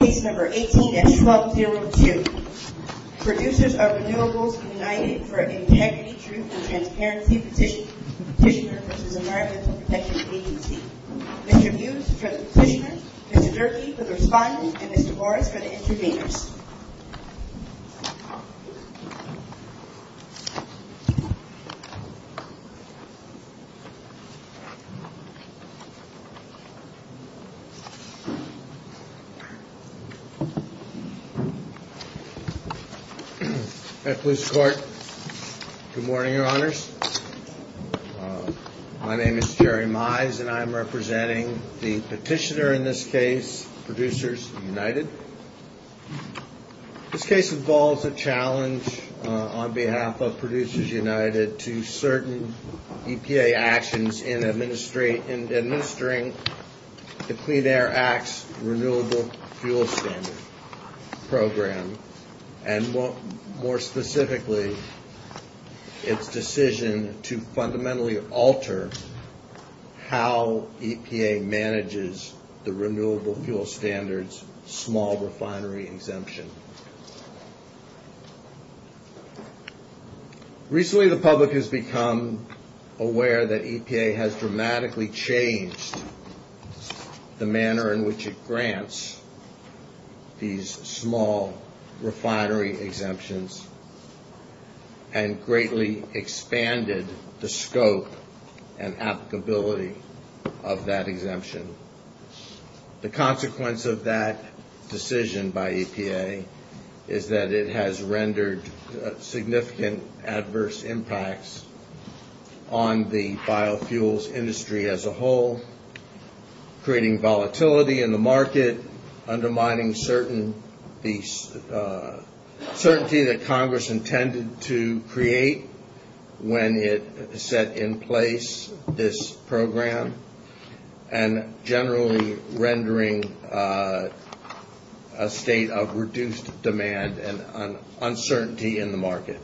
Producers of Renewables United for Integrity, Truth, and Transparency Petitioner v. Environmental Protection Agency Mr. Hughes for the petitioner, Mr. Durkee for the respondent, and Mr. Morris for the intervenors Good morning, Your Honors. My name is Jerry Mize and I am representing the petitioner in this case, Producers United. This case involves a challenge on behalf of Producers United to certain EPA actions in administering the Clean Air Act's Renewable Fuel Standards Program and, more specifically, its decision to fundamentally alter how EPA manages the Renewable Fuel Standards small refinery exemption. Recently, the public has become aware that EPA has dramatically changed the manner in which it grants these small refinery exemptions and greatly expanded the scope and applicability of that exemption. The consequence of that decision by EPA is that it has rendered significant adverse impacts on the biofuels industry as a whole, creating volatility in the market, undermining certainty that Congress intended to create when it set in place this program, and generally rendering a state of reduced demand and uncertainty in the market.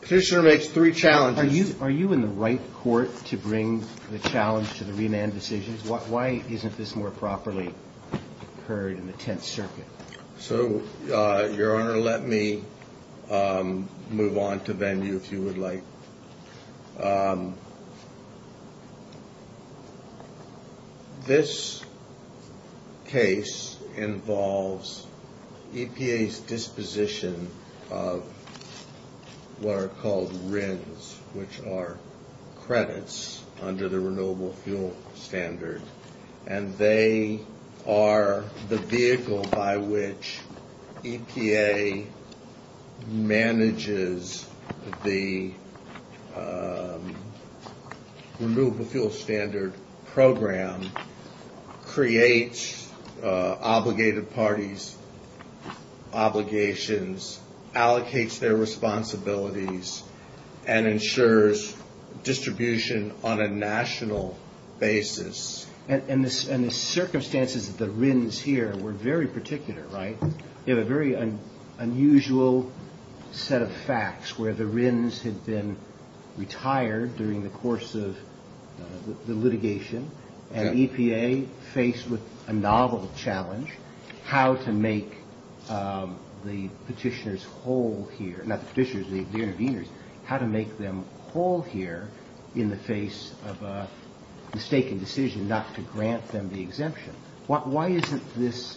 The petitioner makes three challenges. Are you in the right court to bring the challenge to the remand decisions? Why isn't this more properly heard in the Tenth Circuit? So, Your Honor, let me move on to venue, if you would like. This case involves EPA's disposition of what are called RINs, which are credits under the Renewable Fuel Standards, and they are the vehicle by which EPA manages the Renewable Fuel Standards Program, creates obligated parties' obligations, allocates their responsibilities, and ensures distribution on a national basis. And the circumstances of the RINs here were very particular, right? You have a very unusual set of facts where the RINs had been retired during the course of the litigation, and EPA, faced with a novel challenge, how to make the petitioners whole here, not the petitioners, the interveners, how to make them whole here in the face of a mistaken decision not to grant them the exemption. Why isn't this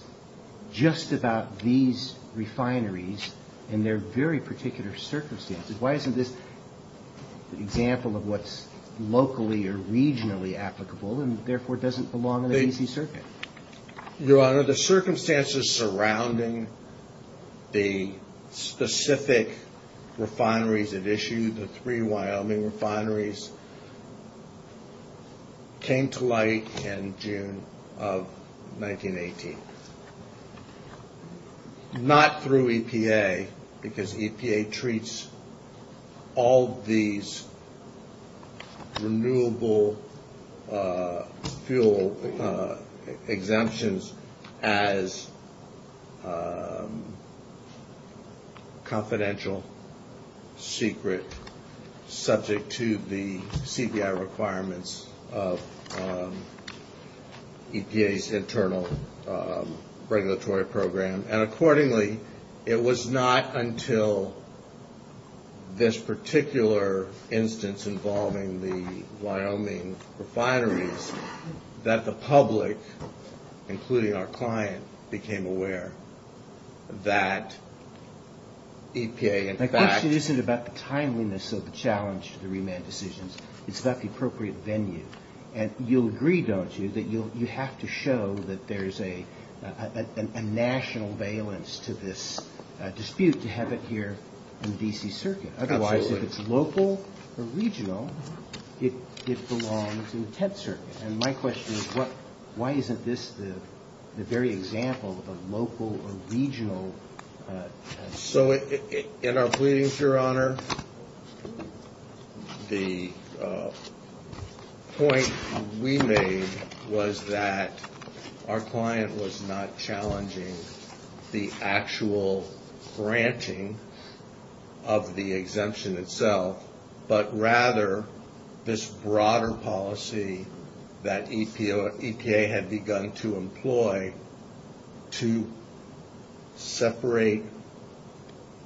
just about these refineries and their very particular circumstances? Why isn't this an example of what's locally or regionally applicable and, therefore, doesn't belong in an easy circuit? Your Honor, the circumstances surrounding the specific refineries at issue, the three Wyoming refineries, came to light in June of 1918, not through EPA, because EPA treats all these renewable fuel exemptions as confidential, secret, subject to the CPI requirements of EPA's internal regulatory program. And accordingly, it was not until this particular instance involving the Wyoming refineries that the public, including our client, became aware that EPA in fact… My question isn't about the timeliness of the challenge to the remand decisions. It's about the appropriate venue. And you'll agree, don't you, that you have to show that there's a national valence to this dispute to have it here in the D.C. Circuit. Absolutely. Because if it's local or regional, it belongs in the Tent Circuit. And my question is, why isn't this the very example of local or regional… So, in our pleadings, Your Honor, the point we made was that our client was not challenging the actual granting of the exemption itself, but rather this broader policy that EPA had begun to employ to separate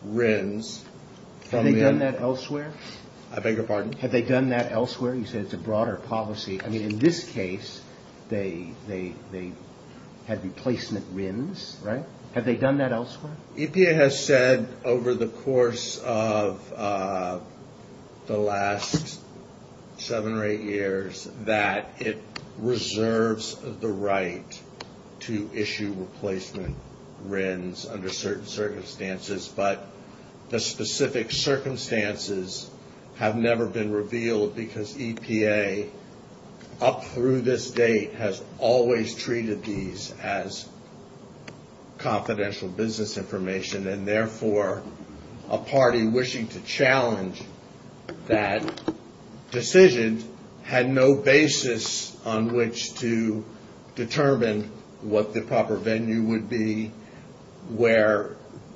RINs… Had they done that elsewhere? I beg your pardon? Had they done that elsewhere? You said it's a broader policy. I mean, in this case, they had replacement RINs, right? Had they done that elsewhere? EPA has said over the course of the last seven or eight years that it reserves the right to issue replacement RINs under certain circumstances. But the specific circumstances have never been revealed because EPA, up through this date, has always treated these as confidential business information. And therefore, a party wishing to challenge that decision had no basis on which to determine what the proper venue would be, where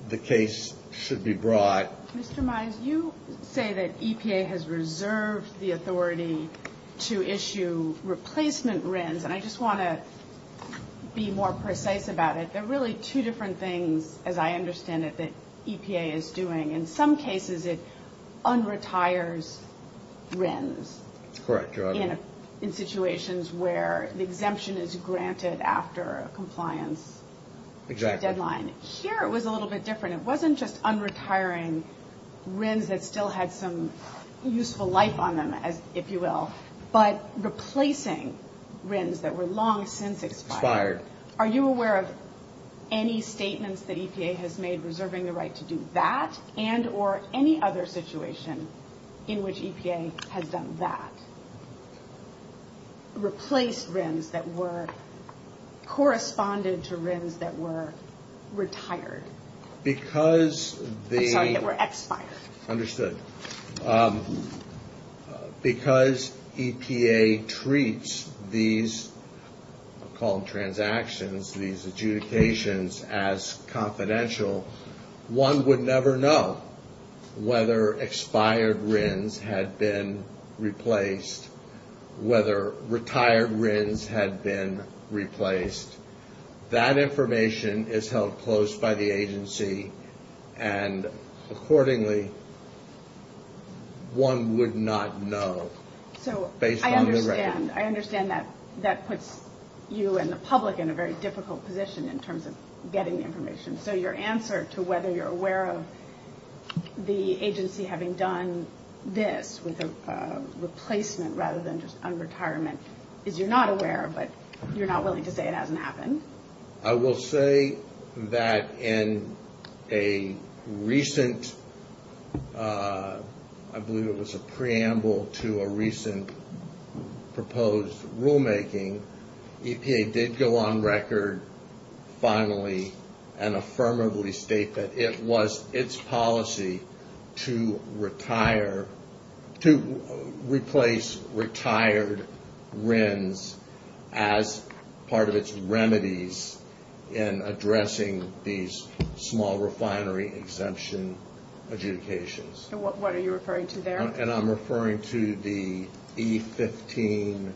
the case should be brought. Mr. Mize, you say that EPA has reserved the authority to issue replacement RINs. And I just want to be more precise about it. They're really two different things, as I understand it, that EPA is doing. In some cases, it unretires RINs… That's correct, Your Honor.… in situations where the exemption is granted after a compliance deadline. Exactly. Here, it was a little bit different. It wasn't just unretiring RINs that still had some useful life on them, if you will, but replacing RINs that were long since expired. Expired. Are you aware of any statements that EPA has made reserving the right to do that and or any other situation in which EPA has done that? Replaced RINs that were… corresponded to RINs that were retired. Because the… I'm sorry, that were expired. Understood. Because EPA treats these transactions, these adjudications, as confidential, one would never know whether expired RINs had been replaced, whether retired RINs had been replaced. That information is held close by the agency, and accordingly, one would not know based on the record. So I understand. I understand that that puts you and the public in a very difficult position in terms of getting the information. So your answer to whether you're aware of the agency having done this with a replacement rather than just unretirement is you're not aware, but you're not willing to say it hasn't happened? I will say that in a recent, I believe it was a preamble to a recent proposed rulemaking, EPA did go on record finally and affirmatively state that it was its policy to retire, to replace retired RINs as part of its remedies in addressing these small refinery exemption adjudications. And what are you referring to there? And I'm referring to the E15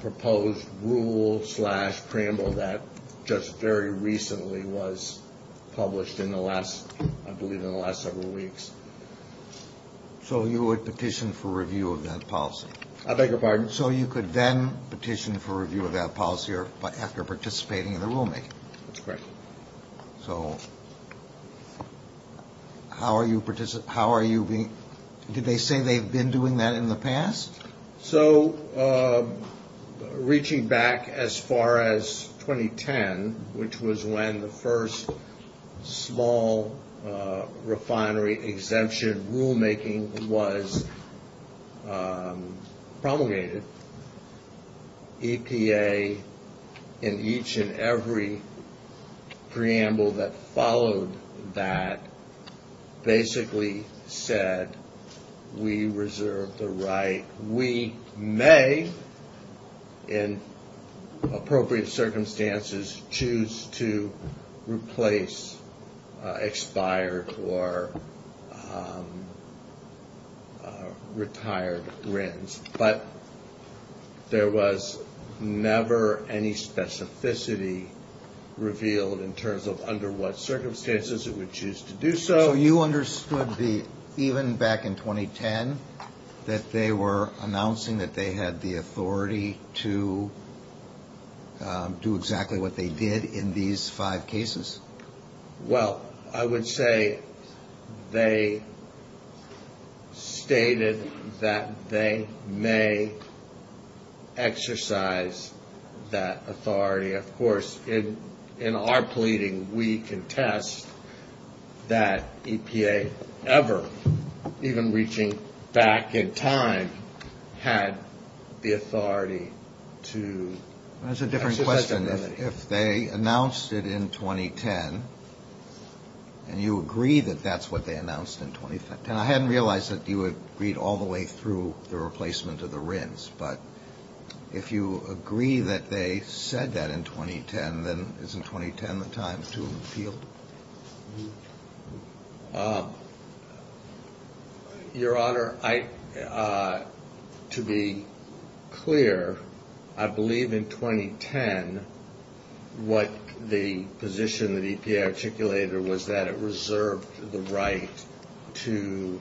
proposed rule slash preamble that just very recently was published in the last, I believe in the last several weeks. So you would petition for review of that policy? I beg your pardon? So you could then petition for review of that policy after participating in the rulemaking? That's correct. So how are you being, did they say they've been doing that in the past? So reaching back as far as 2010, which was when the first small refinery exemption rulemaking was promulgated, EPA in each and every preamble that followed that basically said we reserve the right, we may in appropriate circumstances choose to replace expired or retired RINs. But there was never any specificity revealed in terms of under what circumstances it would choose to do so. So you understood the, even back in 2010, that they were announcing that they had the authority to do exactly what they did in these five cases? Well, I would say they stated that they may exercise that authority. Of course, in our pleading, we contest that EPA ever, even reaching back in time, had the authority to. That's a different question. If they announced it in 2010, and you agree that that's what they announced in 2010. And I hadn't realized that you agreed all the way through the replacement of the RINs. But if you agree that they said that in 2010, then isn't 2010 the time to appeal? Your Honor, to be clear, I believe in 2010 what the position that EPA articulated was that it reserved the right to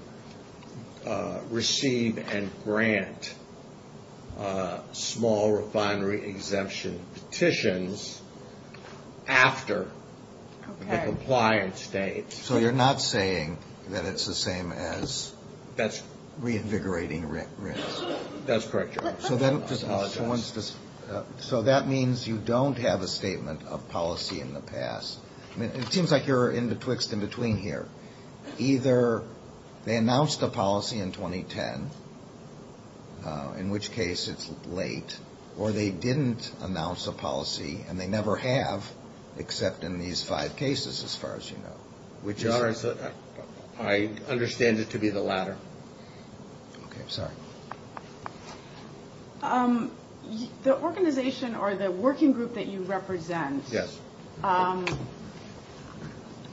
receive and grant small refinery exemption petitions after. Okay. The compliant state. So you're not saying that it's the same as reinvigorating RINs? That's correct, Your Honor. So that means you don't have a statement of policy in the past. It seems like you're in betwixt and between here. Either they announced a policy in 2010, in which case it's late, or they didn't announce a policy, and they never have, except in these five cases, as far as you know. Your Honor, I understand it to be the latter. Okay. Sorry. The organization or the working group that you represent. Yes.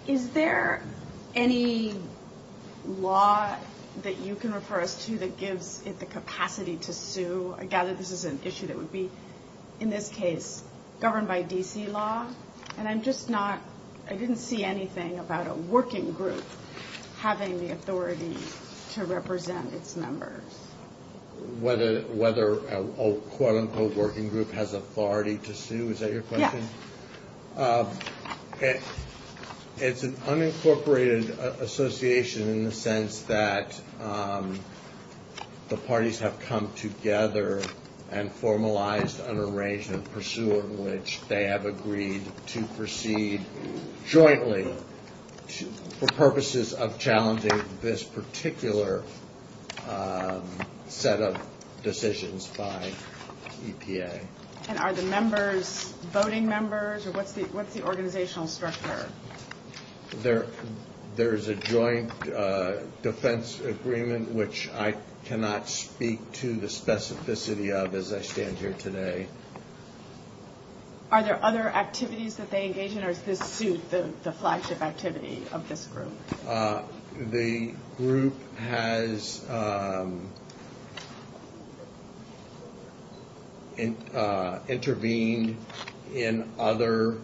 Is there any law that you can refer us to that gives it the capacity to sue? I gather this is an issue that would be, in this case, governed by D.C. law. And I'm just not – I didn't see anything about a working group having the authority to represent its members. Whether a quote-unquote working group has authority to sue? Is that your question? Yes. It's an unincorporated association in the sense that the parties have come together and formalized an arrangement, pursuing which they have agreed to proceed jointly for purposes of challenging this particular set of decisions by EPA. And are the members voting members, or what's the organizational structure? There is a joint defense agreement, which I cannot speak to the specificity of as I stand here today. Are there other activities that they engage in, or is this suit the flagship activity of this group? The group has intervened in other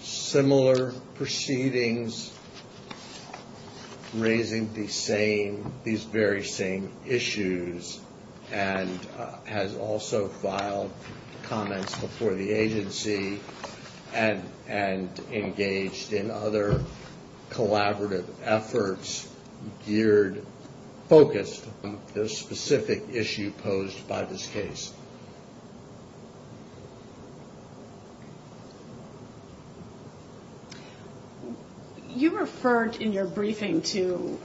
similar proceedings raising these very same issues and has also filed comments before the agency and engaged in other collaborative efforts geared, focused on this specific issue posed by this case. You referred in your briefing to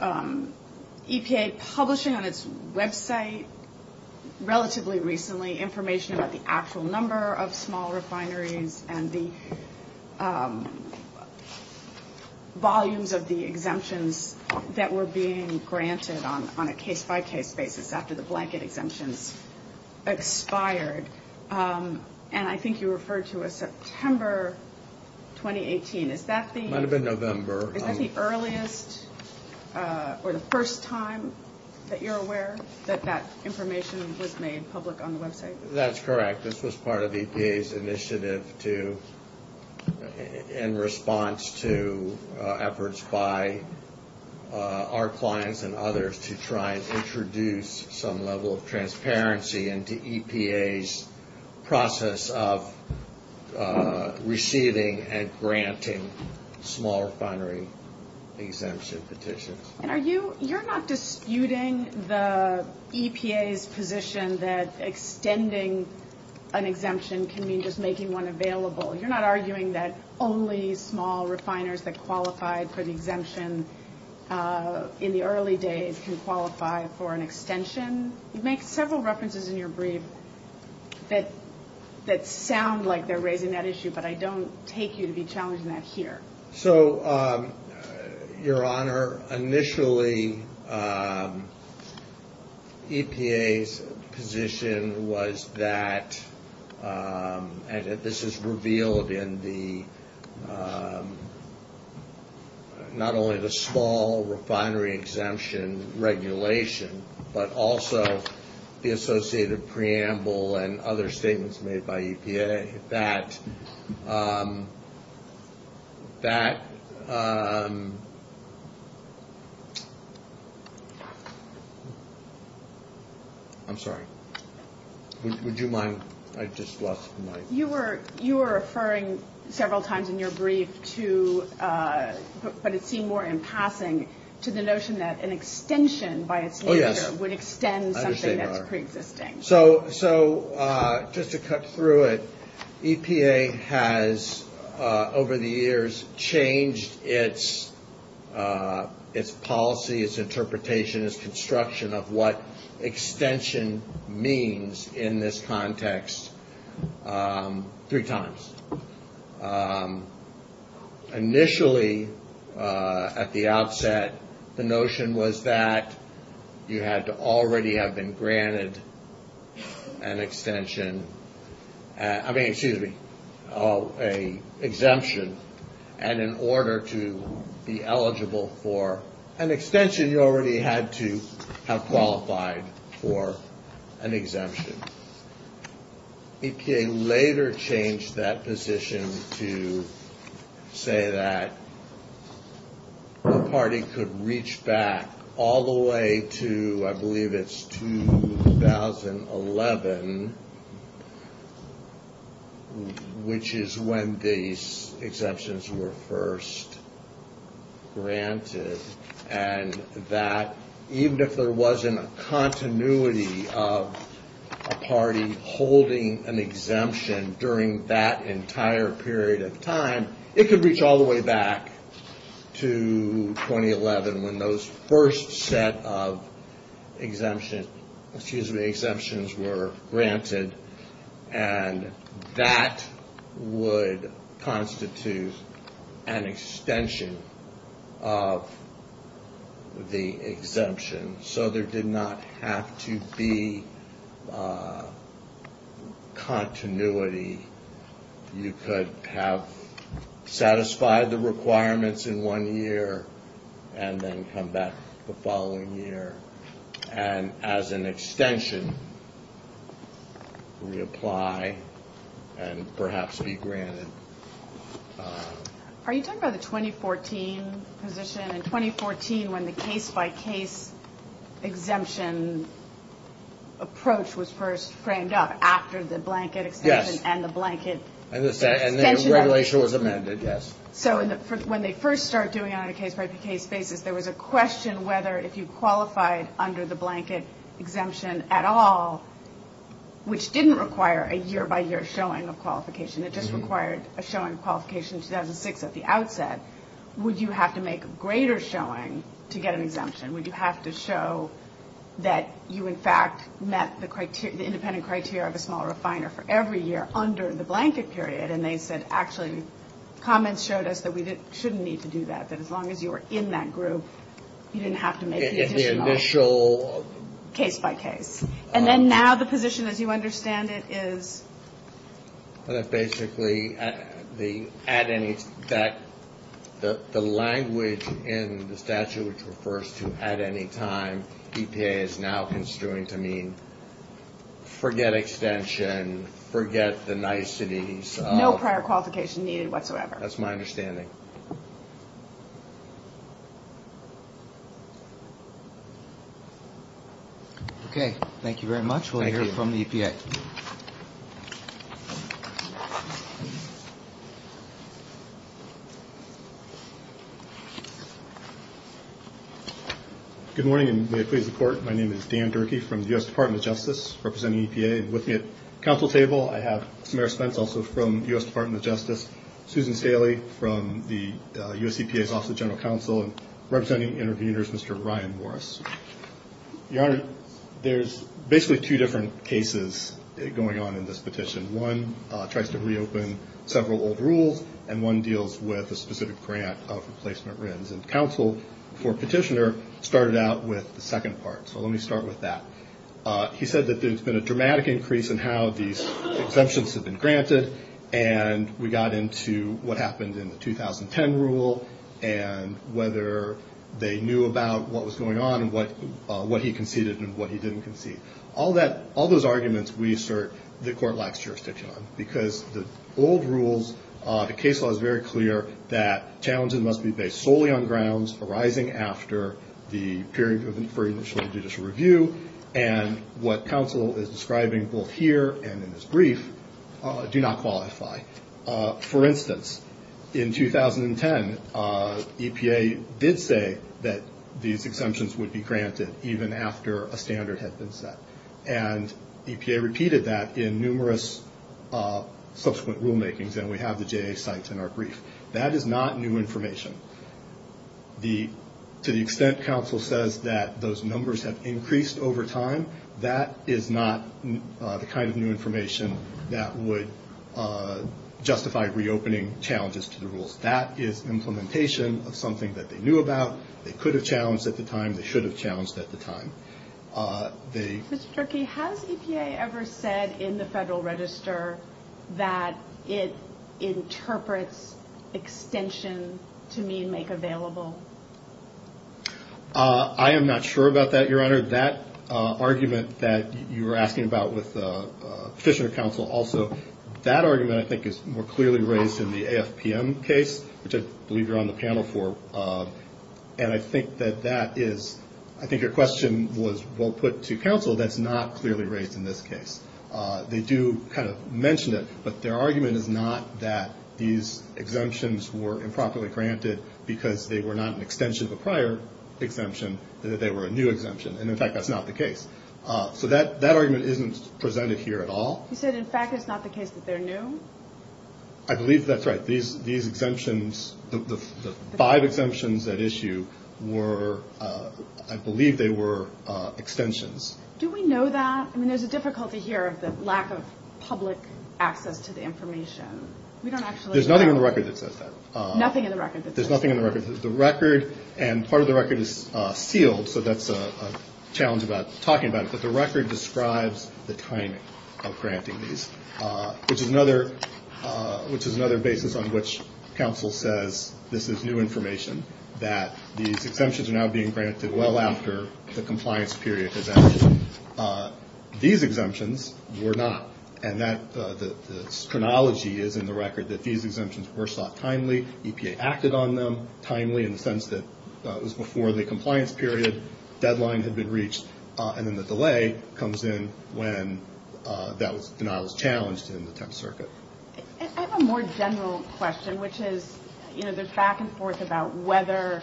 EPA publishing on its website relatively recently information about the actual number of small refineries and the volumes of the exemptions that were being granted on a case-by-case basis after the blanket exemptions expired. And I think you referred to a September 2018. Might have been November. Is that the earliest or the first time that you're aware that that information was made public on the website? That's correct. This was part of EPA's initiative in response to efforts by our clients and others to try and introduce some level of transparency into EPA's process of receiving and granting small refinery exemption petitions. And you're not disputing the EPA's position that extending an exemption can mean just making one available? You're not arguing that only small refiners that qualified for the exemption in the early days can qualify for an extension? You make several references in your brief that sound like they're raising that issue, but I don't take you to be challenging that here. So, Your Honor, initially EPA's position was that, and this is revealed in the, not only the small refinery exemption regulation, but also the associated preamble and other statements made by EPA, that... I'm sorry. Would you mind? I just lost my... You were referring several times in your brief to, but it seemed more in passing, to the notion that an extension by its... Oh, yes. Would extend something that's preexisting. So, just to cut through it, EPA has, over the years, changed its policy, its interpretation, its construction of what extension means in this context three times. Initially, at the outset, the notion was that you had to already have been granted an extension. I mean, excuse me, an exemption. And in order to be eligible for an extension, you already had to have qualified for an exemption. EPA later changed that position to say that the party could reach back all the way to, I believe it's 2011, which is when these exemptions were first granted, and that even if there wasn't a continuity of a party holding an exemption during that entire period of time, it could reach all the way back to 2011 when those first set of exemptions were granted, and that would constitute an extension of the exemption. So, there did not have to be continuity. You could have satisfied the requirements in one year and then come back the following year. And as an extension, reapply and perhaps be granted. Are you talking about the 2014 position? In 2014, when the case-by-case exemption approach was first framed up after the blanket extension and the blanket extension? Yes, and the regulation was amended, yes. So, when they first started doing it on a case-by-case basis, there was a question whether if you qualified under the blanket exemption at all, which didn't require a year-by-year showing of qualification. It just required a showing of qualification in 2006 at the outset. Would you have to make a greater showing to get an exemption? Would you have to show that you, in fact, met the independent criteria of a small refiner for every year under the blanket period? And they said, actually, comments showed us that we shouldn't need to do that, that as long as you were in that group, you didn't have to make the additional case-by-case. And then now the position, as you understand it, is? Basically, the language in the statute, which refers to at any time, EPA is now construing to mean forget extension, forget the niceties. No prior qualification needed whatsoever. That's my understanding. Thank you. Okay. Thank you very much. Thank you. We'll hear from the EPA. Good morning, and may I please report. My name is Dan Durkee from the U.S. Department of Justice, representing EPA. With me at the council table, I have Samara Spence, also from the U.S. Department of Justice, Susan Staley from the U.S. EPA's Office of General Counsel, and representing interviewers, Mr. Ryan Morris. Your Honor, there's basically two different cases going on in this petition. One tries to reopen several old rules, and one deals with a specific grant of replacement RINs. And counsel for petitioner started out with the second part, so let me start with that. He said that there's been a dramatic increase in how these exemptions have been granted, and we got into what happened in the 2010 rule and whether they knew about what was going on and what he conceded and what he didn't concede. All those arguments we assert the court lacks jurisdiction on, because the old rules, the case law is very clear, that challenges must be based solely on grounds arising after the period for initial judicial review, and what counsel is describing both here and in this brief do not qualify. For instance, in 2010, EPA did say that these exemptions would be granted even after a standard had been set. And EPA repeated that in numerous subsequent rulemakings, and we have the JA sites in our brief. That is not new information. To the extent counsel says that those numbers have increased over time, that is not the kind of new information that would justify reopening challenges to the rules. That is implementation of something that they knew about, they could have challenged at the time, they should have challenged at the time. Mr. Turkey, has EPA ever said in the Federal Register that it interprets extension to mean make available? I am not sure about that, Your Honor. That argument that you were asking about with Fisher counsel also, that argument I think is more clearly raised in the AFPM case, which I believe you're on the panel for, and I think that that is, I think your question was well put to counsel, that's not clearly raised in this case. They do kind of mention it, but their argument is not that these exemptions were improperly granted because they were not an extension of a prior exemption, that they were a new exemption. And, in fact, that's not the case. So that argument isn't presented here at all. You said, in fact, it's not the case that they're new? I believe that's right. These exemptions, the five exemptions at issue were, I believe they were extensions. Do we know that? I mean, there's a difficulty here of the lack of public access to the information. We don't actually know. There's nothing in the record that says that. Nothing in the record that says that. There's nothing in the record. The record, and part of the record is sealed, so that's a challenge about talking about it, but the record describes the timing of granting these, which is another basis on which counsel says this is new information, that these exemptions are now being granted well after the compliance period has ended. These exemptions were not. And the chronology is in the record that these exemptions were sought timely, EPA acted on them timely in the sense that it was before the compliance period, deadline had been reached, and then the delay comes in when that denial was challenged in the 10th Circuit. I have a more general question, which is, you know, there's back and forth about whether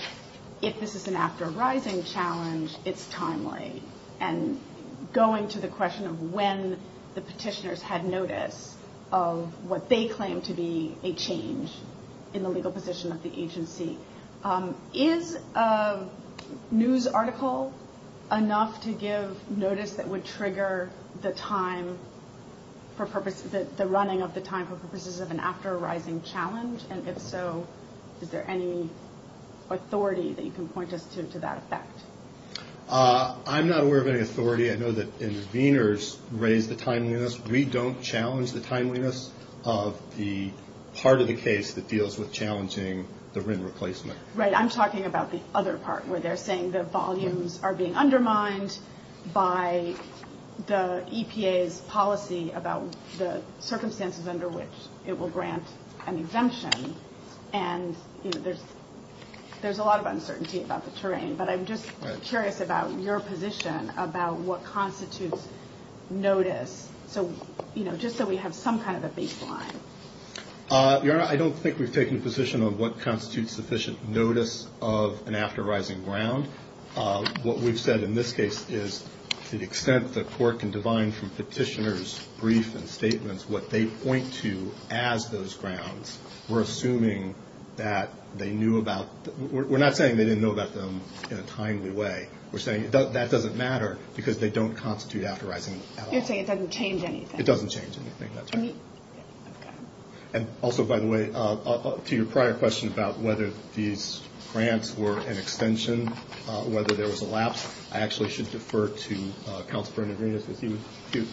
if this is an after arising challenge, it's timely, and going to the question of when the petitioners had notice of what they claimed to be a change in the legal position of the agency. Is a news article enough to give notice that would trigger the time for purpose, the running of the time for purposes of an after arising challenge? And if so, is there any authority that you can point us to to that effect? I'm not aware of any authority. I know that interveners raise the timeliness. We don't challenge the timeliness of the part of the case that deals with challenging the RIN replacement. Right. I'm talking about the other part where they're saying the volumes are being undermined by the EPA's policy about the circumstances under which it will grant an exemption. And there's a lot of uncertainty about the terrain. But I'm just curious about your position about what constitutes notice. So, you know, just so we have some kind of a baseline. Your Honor, I don't think we've taken a position on what constitutes sufficient notice of an after arising ground. What we've said in this case is to the extent the court can divine from petitioners' brief and statements, what they point to as those grounds, we're assuming that they knew about. We're not saying they didn't know about them in a timely way. We're saying that doesn't matter because they don't constitute after arising at all. You're saying it doesn't change anything. It doesn't change anything, that's right. And also, by the way, to your prior question about whether these grants were an extension, whether there was a lapse, I actually should defer to Counselor Bernard-Ruiz because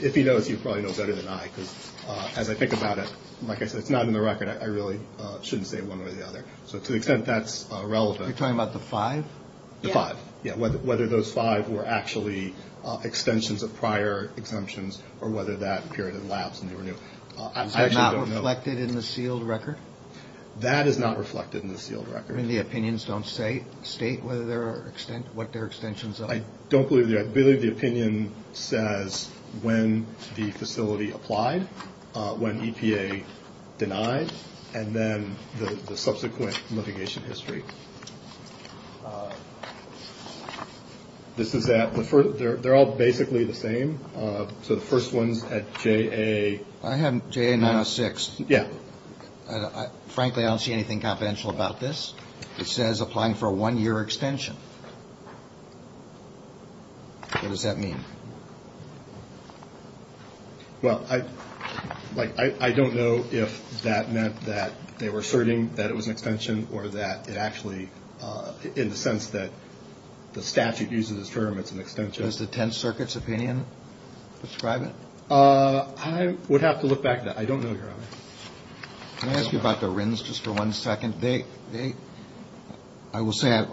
if he knows, he probably knows better than I. Because as I think about it, like I said, it's not in the record. I really shouldn't say one way or the other. So to the extent that's relevant. You're talking about the five? The five. Yeah, whether those five were actually extensions of prior exemptions or whether that period of lapse and they were new. Is that not reflected in the sealed record? That is not reflected in the sealed record. And the opinions don't state what their extensions are? I don't believe they are. I believe the opinion says when the facility applied, when EPA denied, and then the subsequent litigation history. They're all basically the same. So the first one's at J.A. I have J.A. 906. Yeah. Frankly, I don't see anything confidential about this. It says applying for a one-year extension. What does that mean? Well, I don't know if that meant that they were asserting that it was an extension or that it actually, in the sense that the statute uses this term, it's an extension. Does the 10th Circuit's opinion describe it? I would have to look back at that. I don't know, Your Honor. Can I ask you about the RINs just for one second? I will say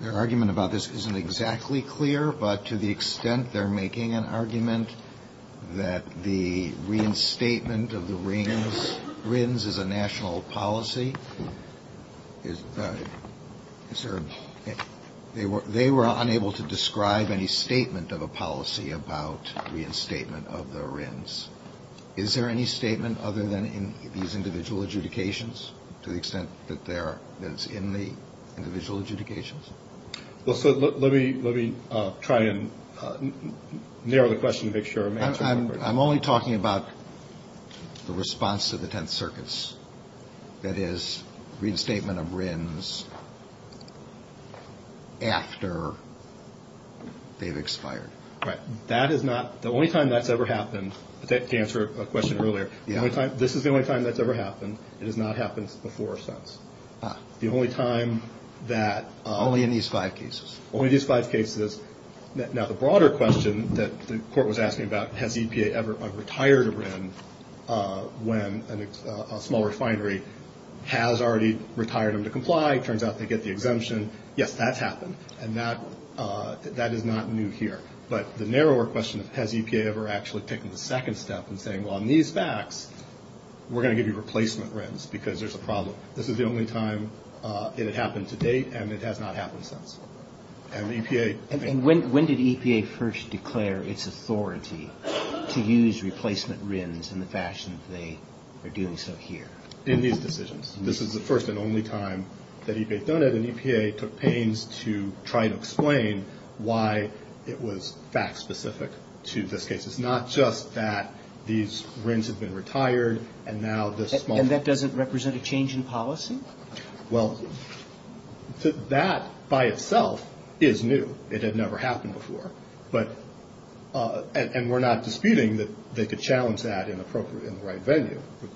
their argument about this isn't exactly clear, but to the extent they're making an argument that the reinstatement of the RINs is a national policy, they were unable to describe any statement of a policy about reinstatement of the RINs. Is there any statement other than in these individual adjudications to the extent that it's in the individual adjudications? Well, sir, let me try and narrow the question to make sure I'm answering correctly. I'm only talking about the response to the 10th Circuit's, that is, reinstatement of RINs after they've expired. Right. That is not, the only time that's ever happened, to answer a question earlier, this is the only time that's ever happened. It has not happened before or since. Ah. The only time that. Only in these five cases. Only these five cases. Now, the broader question that the Court was asking about, has EPA ever retired a RIN when a small refinery has already retired them to comply? It turns out they get the exemption. Yes, that's happened. And that is not new here. But the narrower question, has EPA ever actually taken the second step in saying, well, in these facts, we're going to give you replacement RINs because there's a problem. This is the only time it had happened to date, and it has not happened since. And EPA. And when did EPA first declare its authority to use replacement RINs in the fashion that they are doing so here? In these decisions. This is the first and only time that EPA has done it. And EPA took pains to try to explain why it was fact-specific to this case. It's not just that these RINs have been retired, and now this small. And that doesn't represent a change in policy? Well, that by itself is new. It had never happened before. But, and we're not disputing that they could challenge that in the right venue, which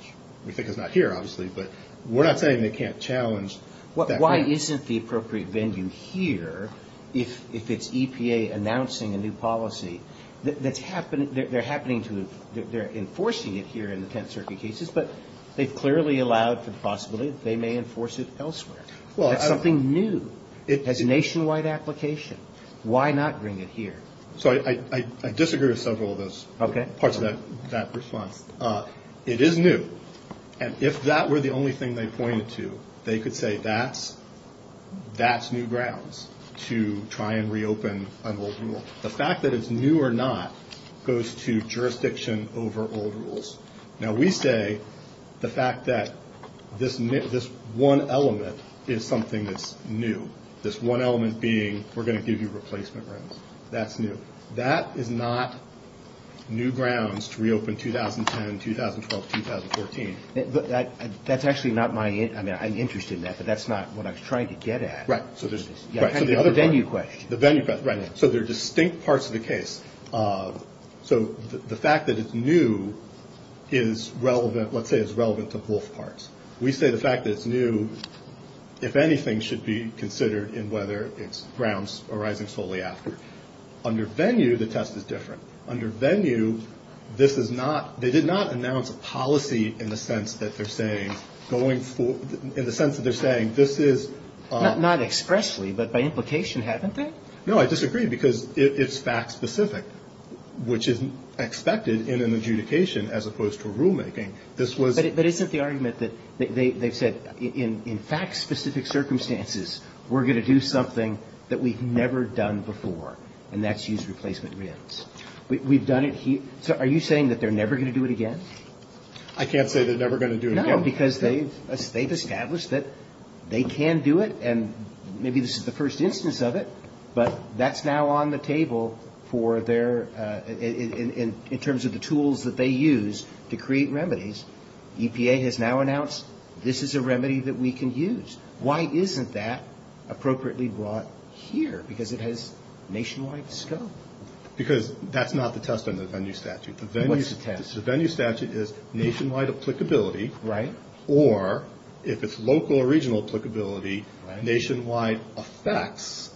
we think is not here, obviously. But we're not saying they can't challenge that. Why isn't the appropriate venue here if it's EPA announcing a new policy that's happening, they're happening to, they're enforcing it here in the Tenth Circuit cases, but they've clearly allowed for the possibility that they may enforce it elsewhere. That's something new. It has nationwide application. Why not bring it here? So I disagree with several of those parts of that response. It is new. And if that were the only thing they pointed to, they could say that's new grounds to try and reopen an old rule. The fact that it's new or not goes to jurisdiction over old rules. Now, we say the fact that this one element is something that's new, this one element being we're going to give you replacement RINs, that's new. That is not new grounds to reopen 2010, 2012, 2014. That's actually not my, I mean, I'm interested in that, but that's not what I was trying to get at. Right. The venue question. The venue question, right. So there are distinct parts of the case. So the fact that it's new is relevant, let's say is relevant to both parts. We say the fact that it's new, if anything, should be considered in whether it's grounds arising solely after. Under venue, the test is different. Under venue, this is not, they did not announce a policy in the sense that they're saying going for, in the sense that they're saying this is. Not expressly, but by implication, haven't they? No, I disagree because it's fact specific, which is expected in an adjudication as opposed to a rulemaking. This was. But isn't the argument that they've said in fact specific circumstances, we're going to do something that we've never done before, and that's use replacement RINs. We've done it here. So are you saying that they're never going to do it again? I can't say they're never going to do it again. No, because they've established that they can do it, and maybe this is the first instance of it, but that's now on the table for their, in terms of the tools that they use to create remedies. EPA has now announced this is a remedy that we can use. Why isn't that appropriately brought here? Because it has nationwide scope. Because that's not the test under the venue statute. What's the test? The venue statute is nationwide applicability. Right. Or if it's local or regional applicability, nationwide effects,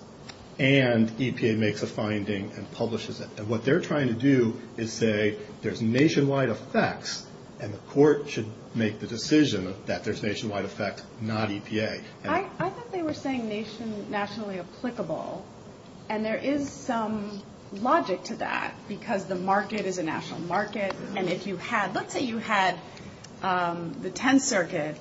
and EPA makes a finding and publishes it. And what they're trying to do is say there's nationwide effects, and the court should make the decision that there's nationwide effect, not EPA. I thought they were saying nationally applicable, and there is some logic to that because the market is a national market, and if you had, let's say you had the Tenth Circuit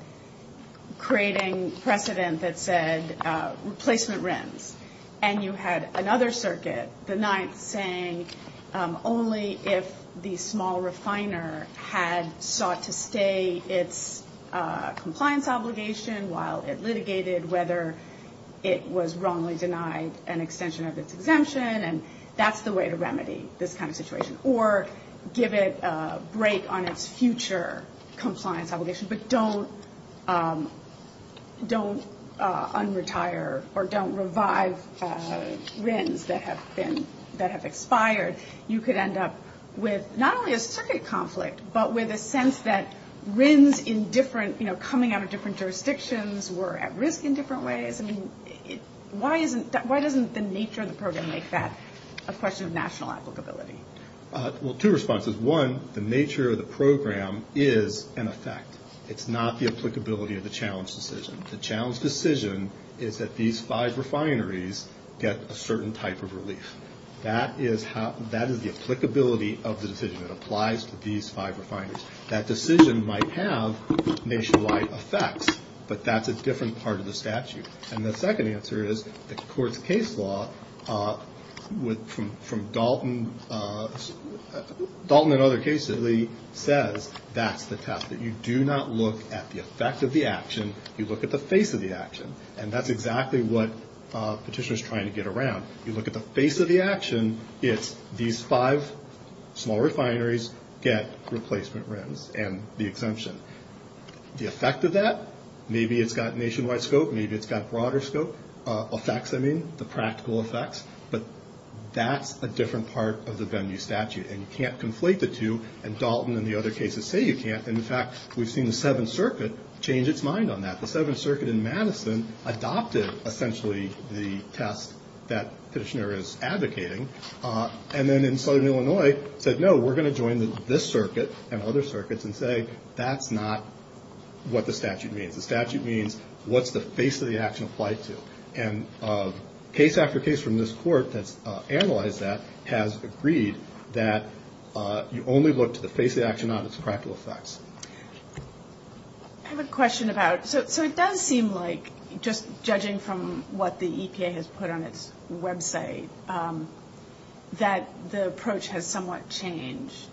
creating precedent that said replacement rims, and you had another circuit, the Ninth, saying only if the small refiner had sought to stay its compliance obligation while it litigated, whether it was wrongly denied an extension of its exemption, and that's the way to remedy this kind of situation. Or give it a break on its future compliance obligation, but don't un-retire or don't revive rims that have expired. You could end up with not only a circuit conflict, but with a sense that rims in different, you know, coming out of different jurisdictions were at risk in different ways. I mean, why doesn't the nature of the program make that a question of national applicability? Well, two responses. One, the nature of the program is an effect. It's not the applicability of the challenge decision. The challenge decision is that these five refineries get a certain type of relief. That is the applicability of the decision. It applies to these five refineries. That decision might have nationwide effects, but that's a different part of the statute. And the second answer is the court's case law from Dalton and other cases says that's the test. You do not look at the effect of the action. You look at the face of the action, and that's exactly what Petitioner is trying to get around. You look at the face of the action. It's these five small refineries get replacement rims and the exemption. The effect of that, maybe it's got nationwide scope. Maybe it's got broader scope. Effects, I mean, the practical effects. But that's a different part of the venue statute, and you can't conflate the two. And Dalton and the other cases say you can't. In fact, we've seen the Seventh Circuit change its mind on that. The Seventh Circuit in Madison adopted essentially the test that Petitioner is advocating. And then in southern Illinois said, no, we're going to join this circuit and other circuits and say that's not what the statute means. The statute means what's the face of the action applied to. And case after case from this court that's analyzed that has agreed that you only look to the face of the action, not its practical effects. I have a question about, so it does seem like, just judging from what the EPA has put on its website, that the approach has somewhat changed.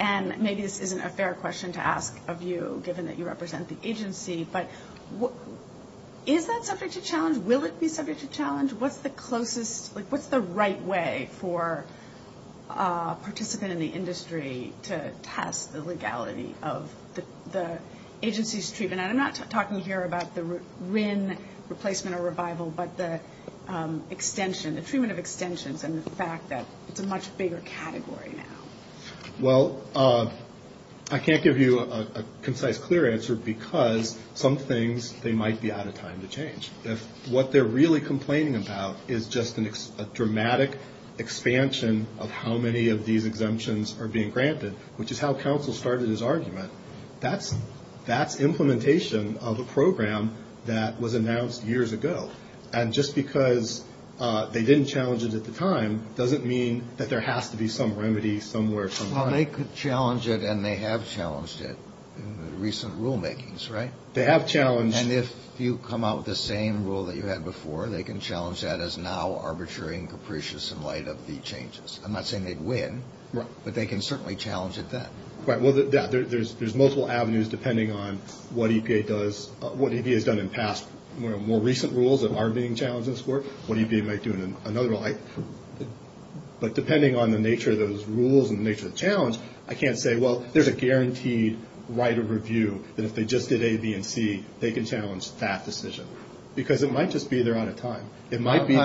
And maybe this isn't a fair question to ask of you, given that you represent the agency. But is that subject to challenge? Will it be subject to challenge? What's the closest, like what's the right way for a participant in the industry to test the legality of the agency's treatment? And I'm not talking here about the RIN replacement or revival, but the extension, the treatment of extensions and the fact that it's a much bigger category now. Well, I can't give you a concise, clear answer because some things, they might be out of time to change. If what they're really complaining about is just a dramatic expansion of how many of these exemptions are being granted, which is how counsel started his argument, that's implementation of a program that was announced years ago. And just because they didn't challenge it at the time doesn't mean that there has to be some remedy somewhere. Well, they could challenge it and they have challenged it in the recent rulemakings, right? They have challenged. And if you come out with the same rule that you had before, they can challenge that as now arbitrary and capricious in light of the changes. I'm not saying they'd win. Right. But they can certainly challenge it then. Right. Well, yeah, there's multiple avenues depending on what EPA does, what EPA has done in past, more recent rules that are being challenged in this court, what EPA might do in another light. But depending on the nature of those rules and the nature of the challenge, I can't say, well, there's a guaranteed right of review that if they just did A, B, and C, they can challenge that decision. Because it might just be they're out of time. Maybe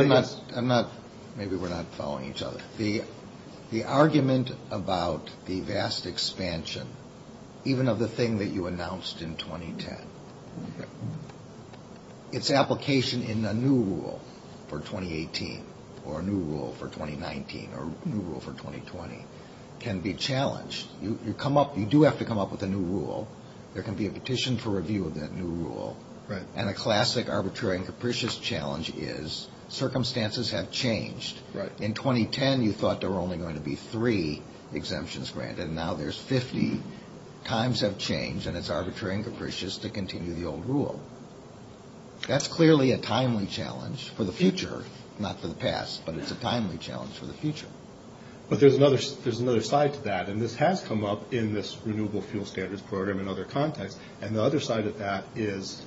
we're not following each other. The argument about the vast expansion, even of the thing that you announced in 2010, its application in a new rule for 2018 or a new rule for 2019 or a new rule for 2020 can be challenged. You do have to come up with a new rule. There can be a petition for review of that new rule. Right. And a classic arbitrary and capricious challenge is circumstances have changed. Right. In 2010, you thought there were only going to be three exemptions granted. And now there's 50. Times have changed, and it's arbitrary and capricious to continue the old rule. That's clearly a timely challenge for the future, not for the past. But it's a timely challenge for the future. But there's another side to that. And this has come up in this Renewable Fuel Standards Program and other contexts. And the other side of that is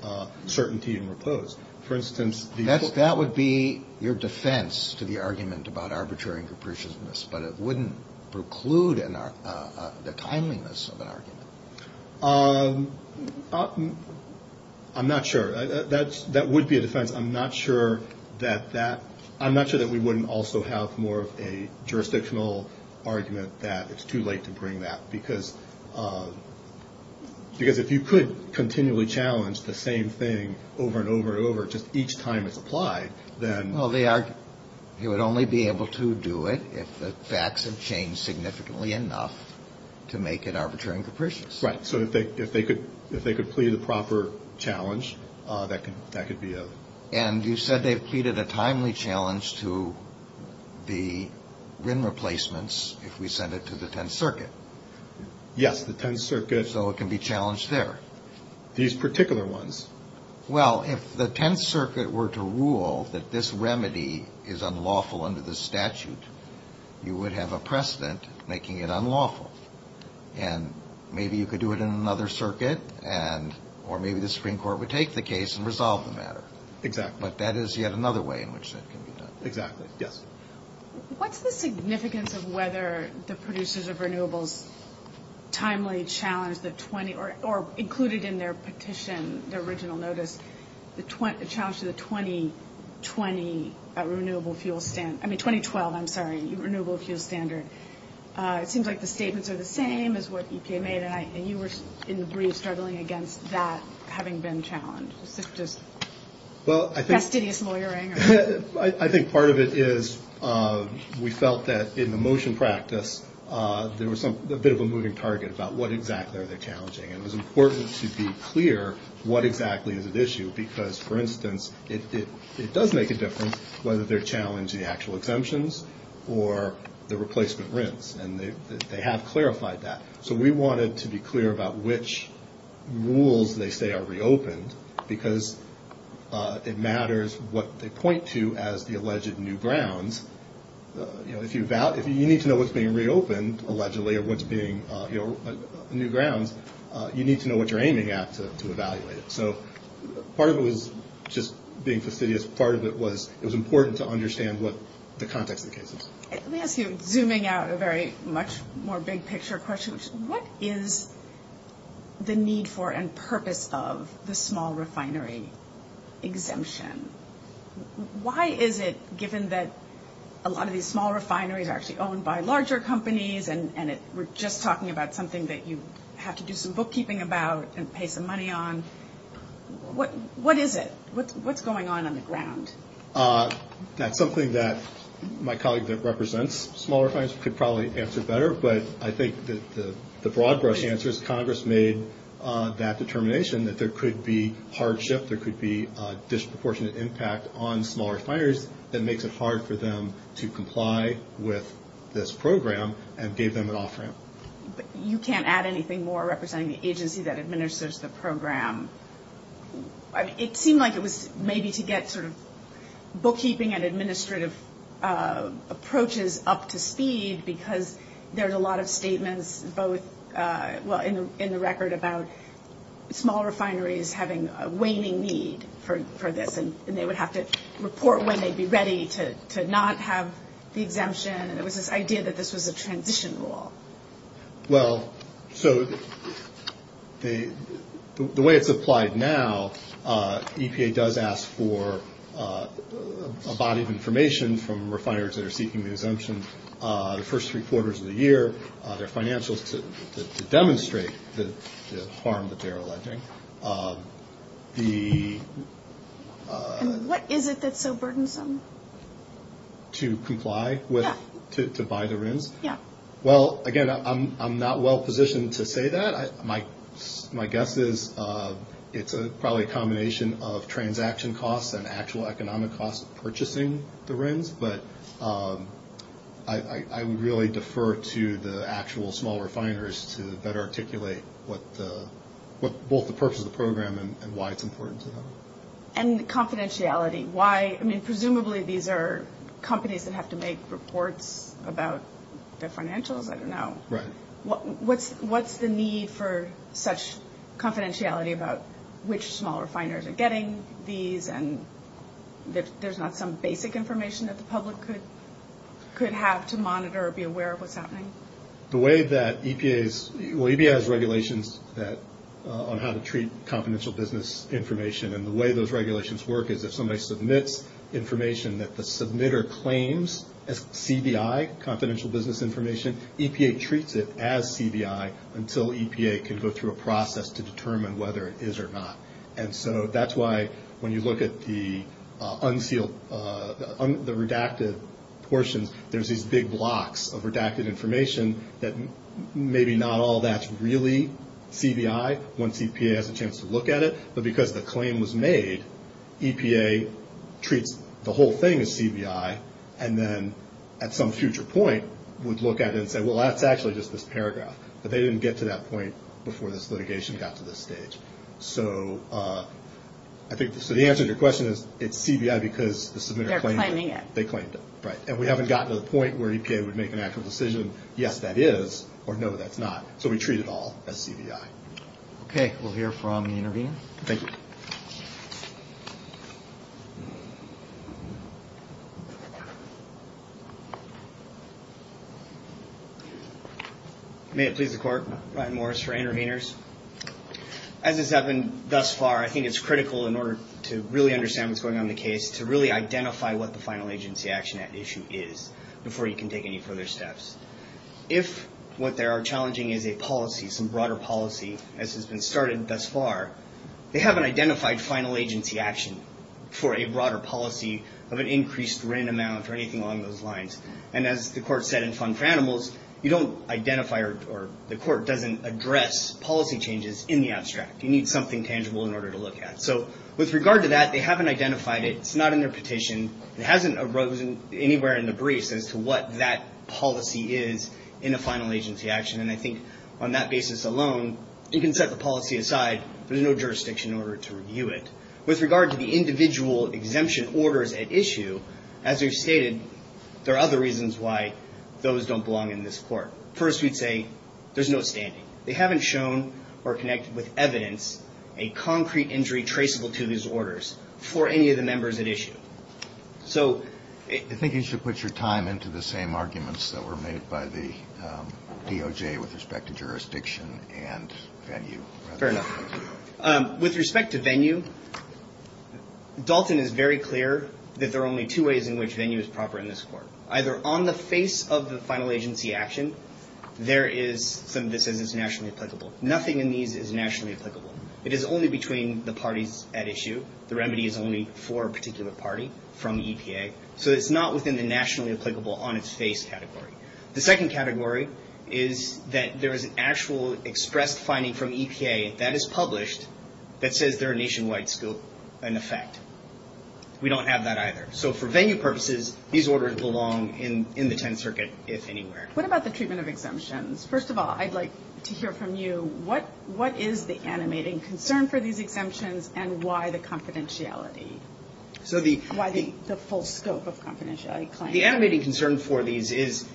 certainty and repose. For instance, the – That would be your defense to the argument about arbitrary and capriciousness. But it wouldn't preclude the timeliness of an argument. I'm not sure. That would be a defense. I'm not sure that that – I'm not sure that we wouldn't also have more of a jurisdictional argument that it's too late to bring that. Because if you could continually challenge the same thing over and over and over just each time it's applied, then – Well, they would only be able to do it if the facts have changed significantly enough to make it arbitrary and capricious. Right. So if they could plead the proper challenge, that could be a – And you said they've pleaded a timely challenge to the RIN replacements if we send it to the Tenth Circuit. Yes, the Tenth Circuit – So it can be challenged there. These particular ones. Well, if the Tenth Circuit were to rule that this remedy is unlawful under the statute, you would have a precedent making it unlawful. And maybe you could do it in another circuit and – or maybe the Supreme Court would take the case and resolve the matter. Exactly. But that is yet another way in which that can be done. Exactly. Yes. What's the significance of whether the producers of renewables timely challenged the – or included in their petition, their original notice, the challenge to the 2020 Renewable Fuel – I mean 2012, I'm sorry, Renewable Fuel Standard? It seems like the statements are the same as what EPA made, and you were in the brief struggling against that having been challenged. Is this just fastidious lawyering? I think part of it is we felt that in the motion practice there was a bit of a moving target about what exactly are they challenging, and it was important to be clear what exactly is at issue because, for instance, it does make a difference whether they're challenging the actual exemptions or the replacement RINs, and they have clarified that. So we wanted to be clear about which rules they say are reopened because it matters what they point to as the alleged new grounds. If you need to know what's being reopened, allegedly, or what's being new grounds, you need to know what you're aiming at to evaluate it. So part of it was just being fastidious. Part of it was it was important to understand what the context of the case is. Let me ask you, zooming out a very much more big-picture question, which is what is the need for and purpose of the small refinery exemption? Why is it, given that a lot of these small refineries are actually owned by larger companies and we're just talking about something that you have to do some bookkeeping about and pay some money on, what is it? What's going on on the ground? That's something that my colleague that represents small refineries could probably answer better, but I think the broad-brush answer is Congress made that determination that there could be hardship, there could be a disproportionate impact on small refineries that makes it hard for them to comply with this program and gave them an offering. But you can't add anything more representing the agency that administers the program. It seemed like it was maybe to get sort of bookkeeping and administrative approaches up to speed because there's a lot of statements both in the record about small refineries having a waning need for this and they would have to report when they'd be ready to not have the exemption. It was this idea that this was a transition rule. Well, so the way it's applied now, EPA does ask for a body of information from refineries that are seeking the exemption. The first three quarters of the year, their financials to demonstrate the harm that they're alleging. What is it that's so burdensome? To comply with, to buy the rooms? Yeah. Well, again, I'm not well positioned to say that. My guess is it's probably a combination of transaction costs and actual economic costs of purchasing the rooms. But I would really defer to the actual small refiners to better articulate both the purpose of the program and why it's important to them. And confidentiality. Presumably these are companies that have to make reports about their financials? I don't know. Right. What's the need for such confidentiality about which small refiners are getting these and if there's not some basic information that the public could have to monitor or be aware of what's happening? The way that EPA's regulations on how to treat confidential business information and the way those regulations work is if somebody submits information that the submitter claims as CBI, confidential business information, EPA treats it as CBI until EPA can go through a process to determine whether it is or not. And so that's why when you look at the redacted portions, there's these big blocks of redacted information that maybe not all that's really CBI once EPA has a chance to look at it. But because the claim was made, EPA treats the whole thing as CBI and then at some future point would look at it and say, well, that's actually just this paragraph. But they didn't get to that point before this litigation got to this stage. So I think the answer to your question is it's CBI because the submitter claimed it. They're claiming it. They claimed it, right. And we haven't gotten to the point where EPA would make an actual decision, yes, that is, or no, that's not. So we treat it all as CBI. Okay. We'll hear from the intervener. Thank you. May it please the Court. Ryan Morris for interveners. As has happened thus far, I think it's critical in order to really understand what's going on in the case to really identify what the final agency action issue is before you can take any further steps. If what they are challenging is a policy, some broader policy, as has been started thus far, they haven't identified final agency action for a broader policy of an increased rent amount or anything along those lines. And as the Court said in Fund for Animals, you don't identify or the Court doesn't address policy changes in the abstract. You need something tangible in order to look at. So with regard to that, they haven't identified it. It's not in their petition. It hasn't arisen anywhere in the briefs as to what that policy is in a final agency action. And I think on that basis alone, you can set the policy aside. There's no jurisdiction in order to review it. With regard to the individual exemption orders at issue, as we've stated, there are other reasons why those don't belong in this Court. First, we'd say there's no standing. They haven't shown or connected with evidence a concrete injury traceable to these orders for any of the members at issue. So you think you should put your time into the same arguments that were made by the DOJ with respect to jurisdiction and venue. Fair enough. With respect to venue, Dalton is very clear that there are only two ways in which venue is proper in this Court. Either on the face of the final agency action, there is something that says it's nationally applicable. Nothing in these is nationally applicable. It is only between the parties at issue. The remedy is only for a particular party from EPA. So it's not within the nationally applicable on its face category. The second category is that there is an actual expressed finding from EPA that is published that says they're a nationwide scope and effect. We don't have that either. So for venue purposes, these orders belong in the Tenth Circuit, if anywhere. What about the treatment of exemptions? First of all, I'd like to hear from you. What is the animating concern for these exemptions and why the confidentiality? Why the full scope of confidentiality claims? The animating concern for these is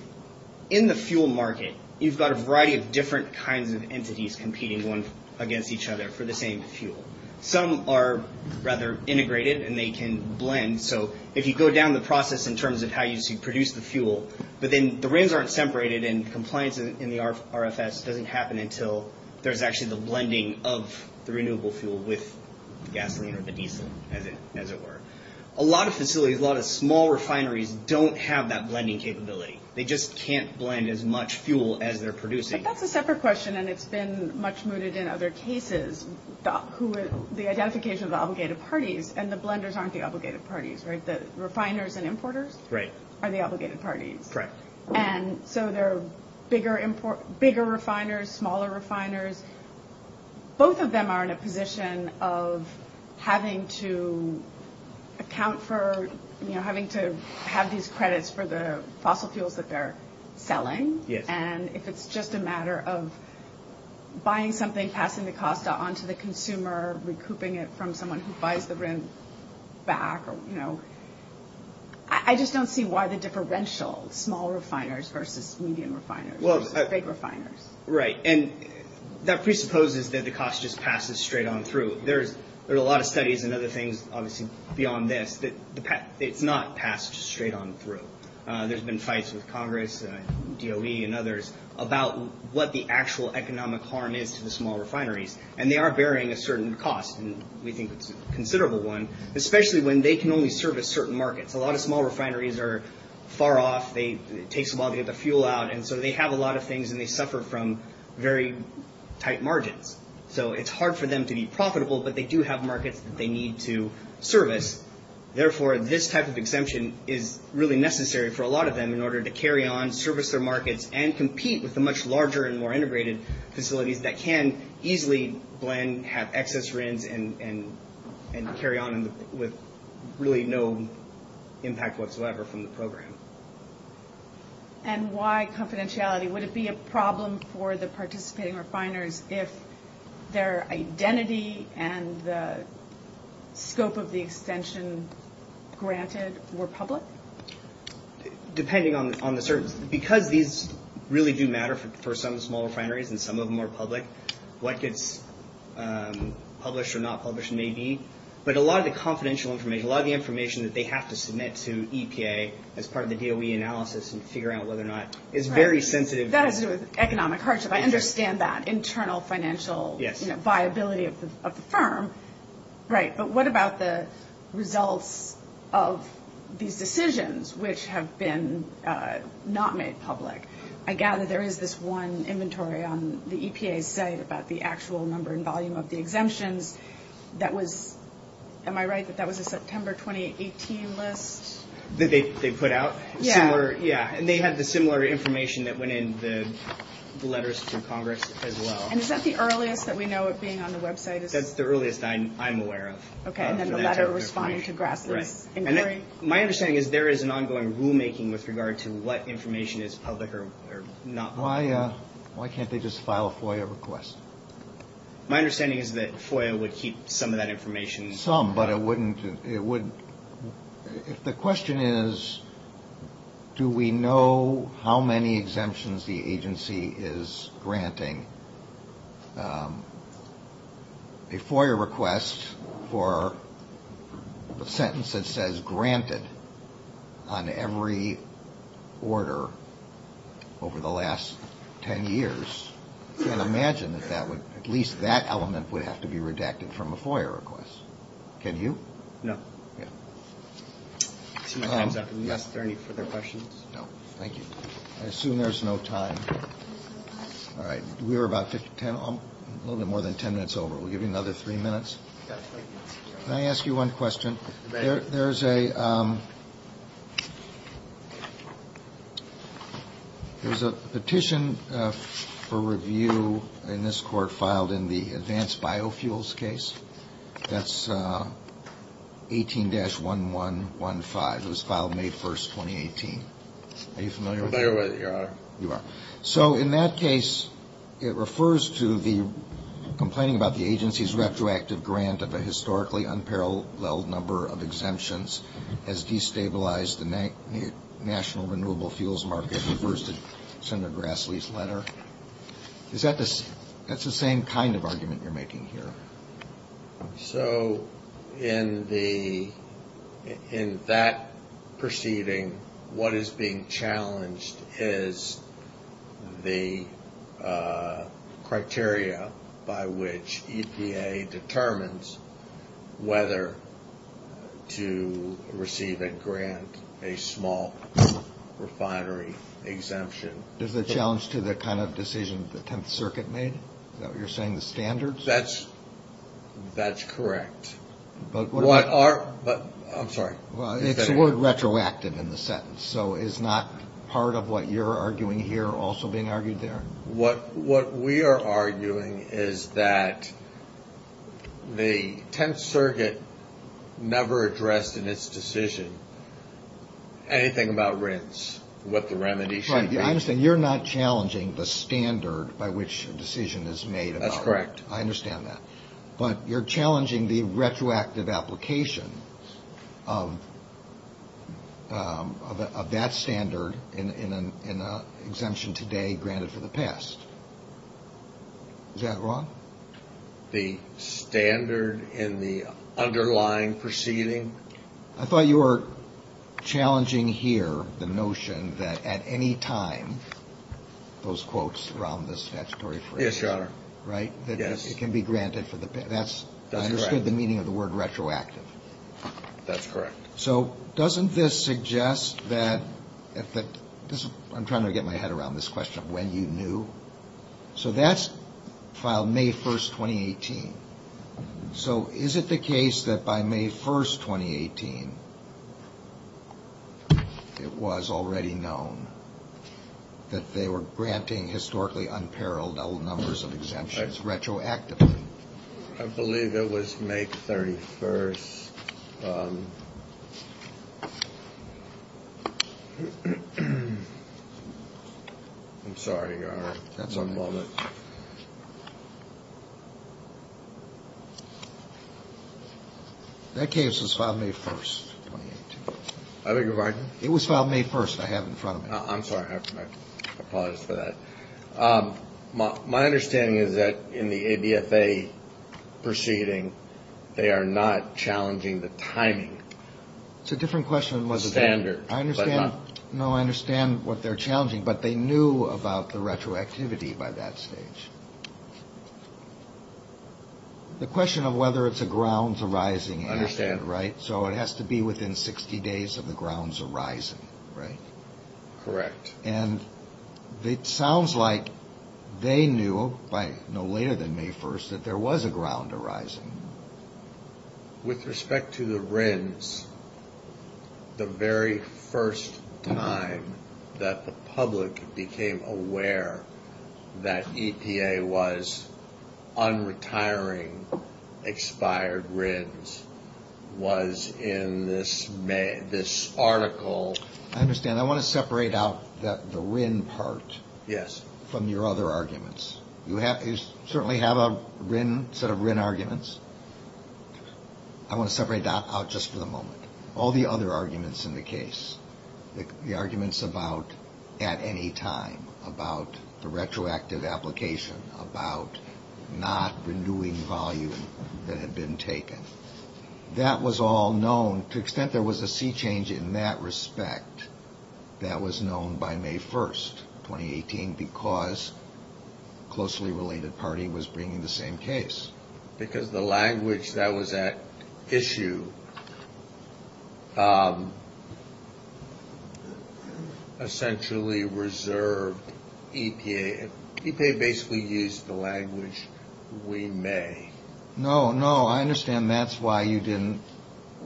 in the fuel market, you've got a variety of different kinds of entities competing against each other for the same fuel. Some are rather integrated and they can blend. So if you go down the process in terms of how you produce the fuel, but then the reins aren't separated and compliance in the RFS doesn't happen until there's actually the blending of the renewable fuel with gasoline or the diesel, as it were. A lot of facilities, a lot of small refineries don't have that blending capability. They just can't blend as much fuel as they're producing. But that's a separate question, and it's been much mooted in other cases. The identification of the obligated parties and the blenders aren't the obligated parties, right? The refiners and importers are the obligated parties. Correct. And so there are bigger refiners, smaller refiners. Both of them are in a position of having to account for, having to have these credits for the fossil fuels that they're selling. And if it's just a matter of buying something, passing the cost onto the consumer, recouping it from someone who buys the rent back. I just don't see why the differential, small refiners versus medium refiners versus big refiners. Right. And that presupposes that the cost just passes straight on through. There are a lot of studies and other things, obviously, beyond this, that it's not passed straight on through. There's been fights with Congress, DOE, and others about what the actual economic harm is to the small refineries. And they are bearing a certain cost, and we think it's a considerable one, especially when they can only service certain markets. A lot of small refineries are far off. It takes a while to get the fuel out, and so they have a lot of things, and they suffer from very tight margins. So it's hard for them to be profitable, but they do have markets that they need to service. Therefore, this type of exemption is really necessary for a lot of them in order to carry on, service their markets, and compete with the much larger and more integrated facilities that can easily blend, have excess RINs, and carry on with really no impact whatsoever from the program. And why confidentiality? Would it be a problem for the participating refiners if their identity and the scope of the extension granted were public? Depending on the service. Because these really do matter for some small refineries, and some of them are public, what gets published or not published may be. But a lot of the confidential information, a lot of the information that they have to submit to EPA as part of the DOE analysis and figure out whether or not it's very sensitive. That has to do with economic hardship. I understand that, internal financial viability of the firm. Right. But what about the results of these decisions which have been not made public? I gather there is this one inventory on the EPA's site about the actual number and volume of the exemptions. Am I right that that was a September 2018 list? That they put out? Yeah. And they had the similar information that went in the letters to Congress as well. And is that the earliest that we know of being on the website? That's the earliest I'm aware of. Okay, and then the letter responding to Grassley's inquiry? My understanding is there is an ongoing rulemaking with regard to what information is public or not public. Why can't they just file a FOIA request? My understanding is that FOIA would keep some of that information. Some, but it wouldn't. If the question is do we know how many exemptions the agency is granting, a FOIA request for a sentence that says granted on every order over the last 10 years, I can imagine that at least that element would have to be redacted from a FOIA request. Can you? No. Yeah. I see no hands up. Unless there are any further questions? No. Thank you. I assume there's no time. All right. We are about 10, a little bit more than 10 minutes over. We'll give you another three minutes. Can I ask you one question? There's a petition for review in this court filed in the advanced biofuels case. That's 18-1115. It was filed May 1st, 2018. Are you familiar with that? I'm familiar with it, Your Honor. You are. So in that case, it refers to the complaining about the agency's retroactive grant of a historically unparalleled number of exemptions has destabilized the national renewable fuels market, refers to Senator Grassley's letter. That's the same kind of argument you're making here. So in that proceeding, what is being challenged is the criteria by which EPA determines whether to receive and grant a small refinery exemption. Is the challenge to the kind of decision the Tenth Circuit made? Is that what you're saying, the standards? That's correct. I'm sorry. It's the word retroactive in the sentence. So is not part of what you're arguing here also being argued there? What we are arguing is that the Tenth Circuit never addressed in its decision anything about rinse, what the remedy should be. I understand you're not challenging the standard by which a decision is made. That's correct. I understand that. But you're challenging the retroactive application of that standard in an exemption today granted for the past. Is that wrong? The standard in the underlying proceeding? I thought you were challenging here the notion that at any time, those quotes around the statutory phrase. Yes, Your Honor. Right? Yes. It can be granted for the past. That's correct. I understood the meaning of the word retroactive. That's correct. So doesn't this suggest that, I'm trying to get my head around this question of when you knew. So that's filed May 1st, 2018. So is it the case that by May 1st, 2018, it was already known that they were granting historically unparalleled numbers of exemptions retroactively? I believe it was May 31st. I'm sorry, Your Honor. That's on moment. That case was filed May 1st, 2018. I beg your pardon? It was filed May 1st. I have it in front of me. I'm sorry. I apologize for that. My understanding is that in the ABFA proceeding, they are not challenging the timing. It's a different question. The standard. I understand. No, I understand what they're challenging, but they knew about the retroactivity by that stage. The question of whether it's a grounds arising. I understand. Right? So it has to be within 60 days of the grounds arising, right? Correct. And it sounds like they knew by no later than May 1st that there was a ground arising. With respect to the RINs, the very first time that the public became aware that EPA was unretiring expired RINs was in this article. I understand. I want to separate out the RIN part from your other arguments. You certainly have a set of RIN arguments. I want to separate that out just for the moment. All the other arguments in the case, the arguments about at any time, about the retroactive application, about not renewing volume that had been taken, that was all known. And to the extent there was a sea change in that respect, that was known by May 1st, 2018, because a closely related party was bringing the same case. Because the language that was at issue essentially reserved EPA. EPA basically used the language, we may. No, no, I understand that's why you didn't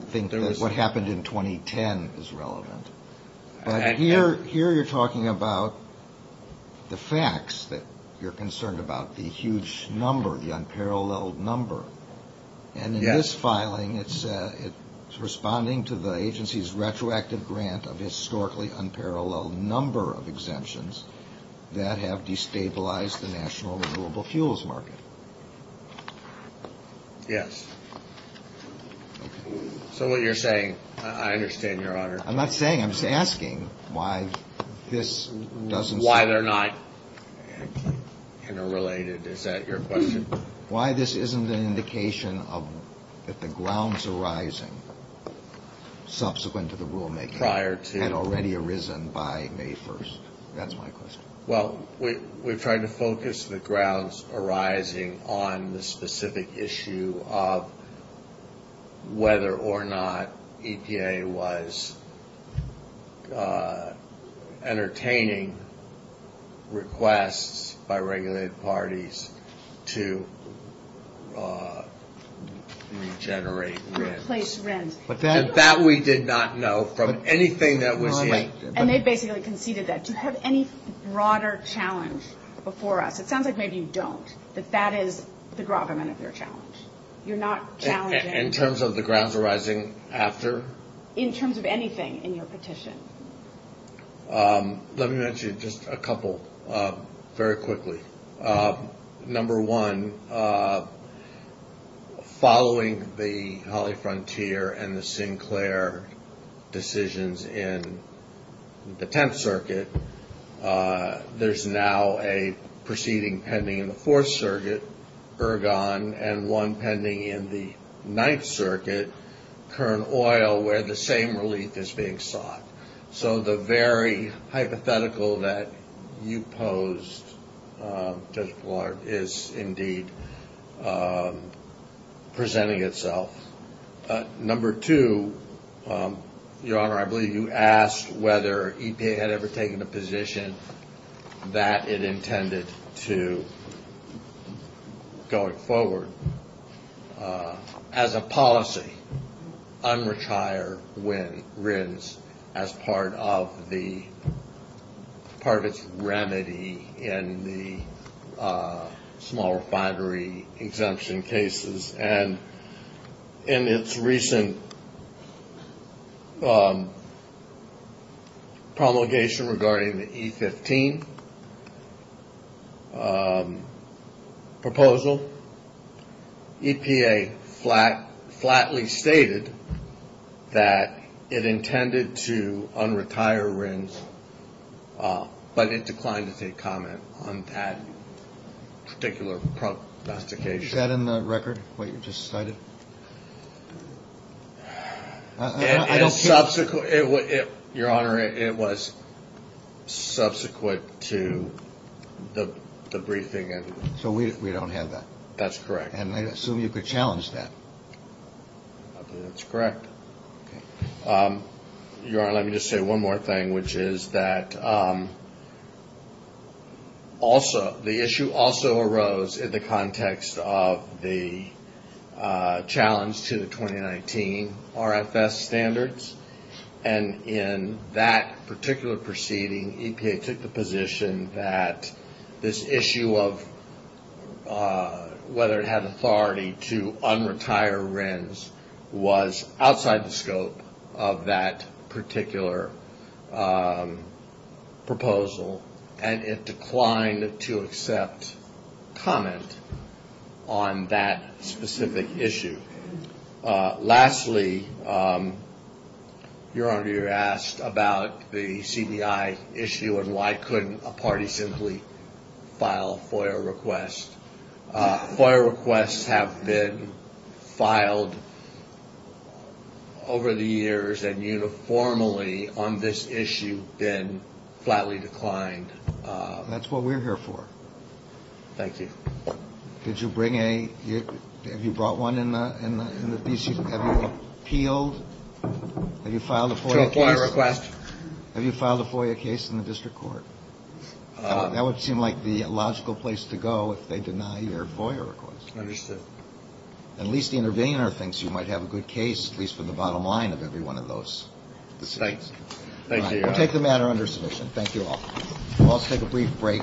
think that what happened in 2010 is relevant. But here you're talking about the facts that you're concerned about, the huge number, the unparalleled number. And in this filing, it's responding to the agency's retroactive grant of historically unparalleled number of exemptions that have destabilized the national renewable fuels market. Yes. So what you're saying, I understand, Your Honor. I'm not saying, I'm just asking why this doesn't. Why they're not interrelated, is that your question? Why this isn't an indication that the grounds arising subsequent to the rulemaking had already arisen by May 1st. That's my question. Well, we've tried to focus the grounds arising on the specific issue of whether or not EPA was entertaining requests by regulated parties to regenerate rent. Replace rent. That we did not know from anything that was in. Right. And they basically conceded that. Do you have any broader challenge before us? It sounds like maybe you don't, that that is the gravamen of your challenge. You're not challenging. In terms of the grounds arising after? In terms of anything in your petition. Let me mention just a couple very quickly. Number one, following the Holly Frontier and the Sinclair decisions in the Tenth Circuit, there's now a proceeding pending in the Fourth Circuit, Ergon, and one pending in the Ninth Circuit, Kern Oil, where the same relief is being sought. So the very hypothetical that you posed, Judge Blart, is indeed presenting itself. Number two, Your Honor, I believe you asked whether EPA had ever taken a position that it intended to going forward. As a policy, unretired RINs as part of its remedy in the small refinery exemption cases. And in its recent promulgation regarding the E15 proposal, EPA flatly stated that it intended to unretire RINs, but it declined to take comment on that particular prosecution. Is that in the record, what you just cited? Your Honor, it was subsequent to the briefing. So we don't have that. That's correct. And I assume you could challenge that. That's correct. Your Honor, let me just say one more thing, which is that also the issue also arose in the context of the challenge to the 2019 RFS standards. And in that particular proceeding, EPA took the position that this issue of whether it had authority to unretire RINs was outside the scope of that particular proposal, and it declined to accept comment on that specific issue. Lastly, Your Honor, you asked about the CBI issue and why couldn't a party simply file FOIA requests. FOIA requests have been filed over the years and uniformly on this issue been flatly declined. That's what we're here for. Thank you. Did you bring a – have you brought one in the – have you appealed? Have you filed a FOIA case? Two FOIA requests. Have you filed a FOIA case in the district court? That would seem like the logical place to go if they deny your FOIA request. Understood. At least the intervener thinks you might have a good case, at least from the bottom line of every one of those decisions. Thank you, Your Honor. All right. We'll take the matter under submission. Thank you all. We'll also take a brief break.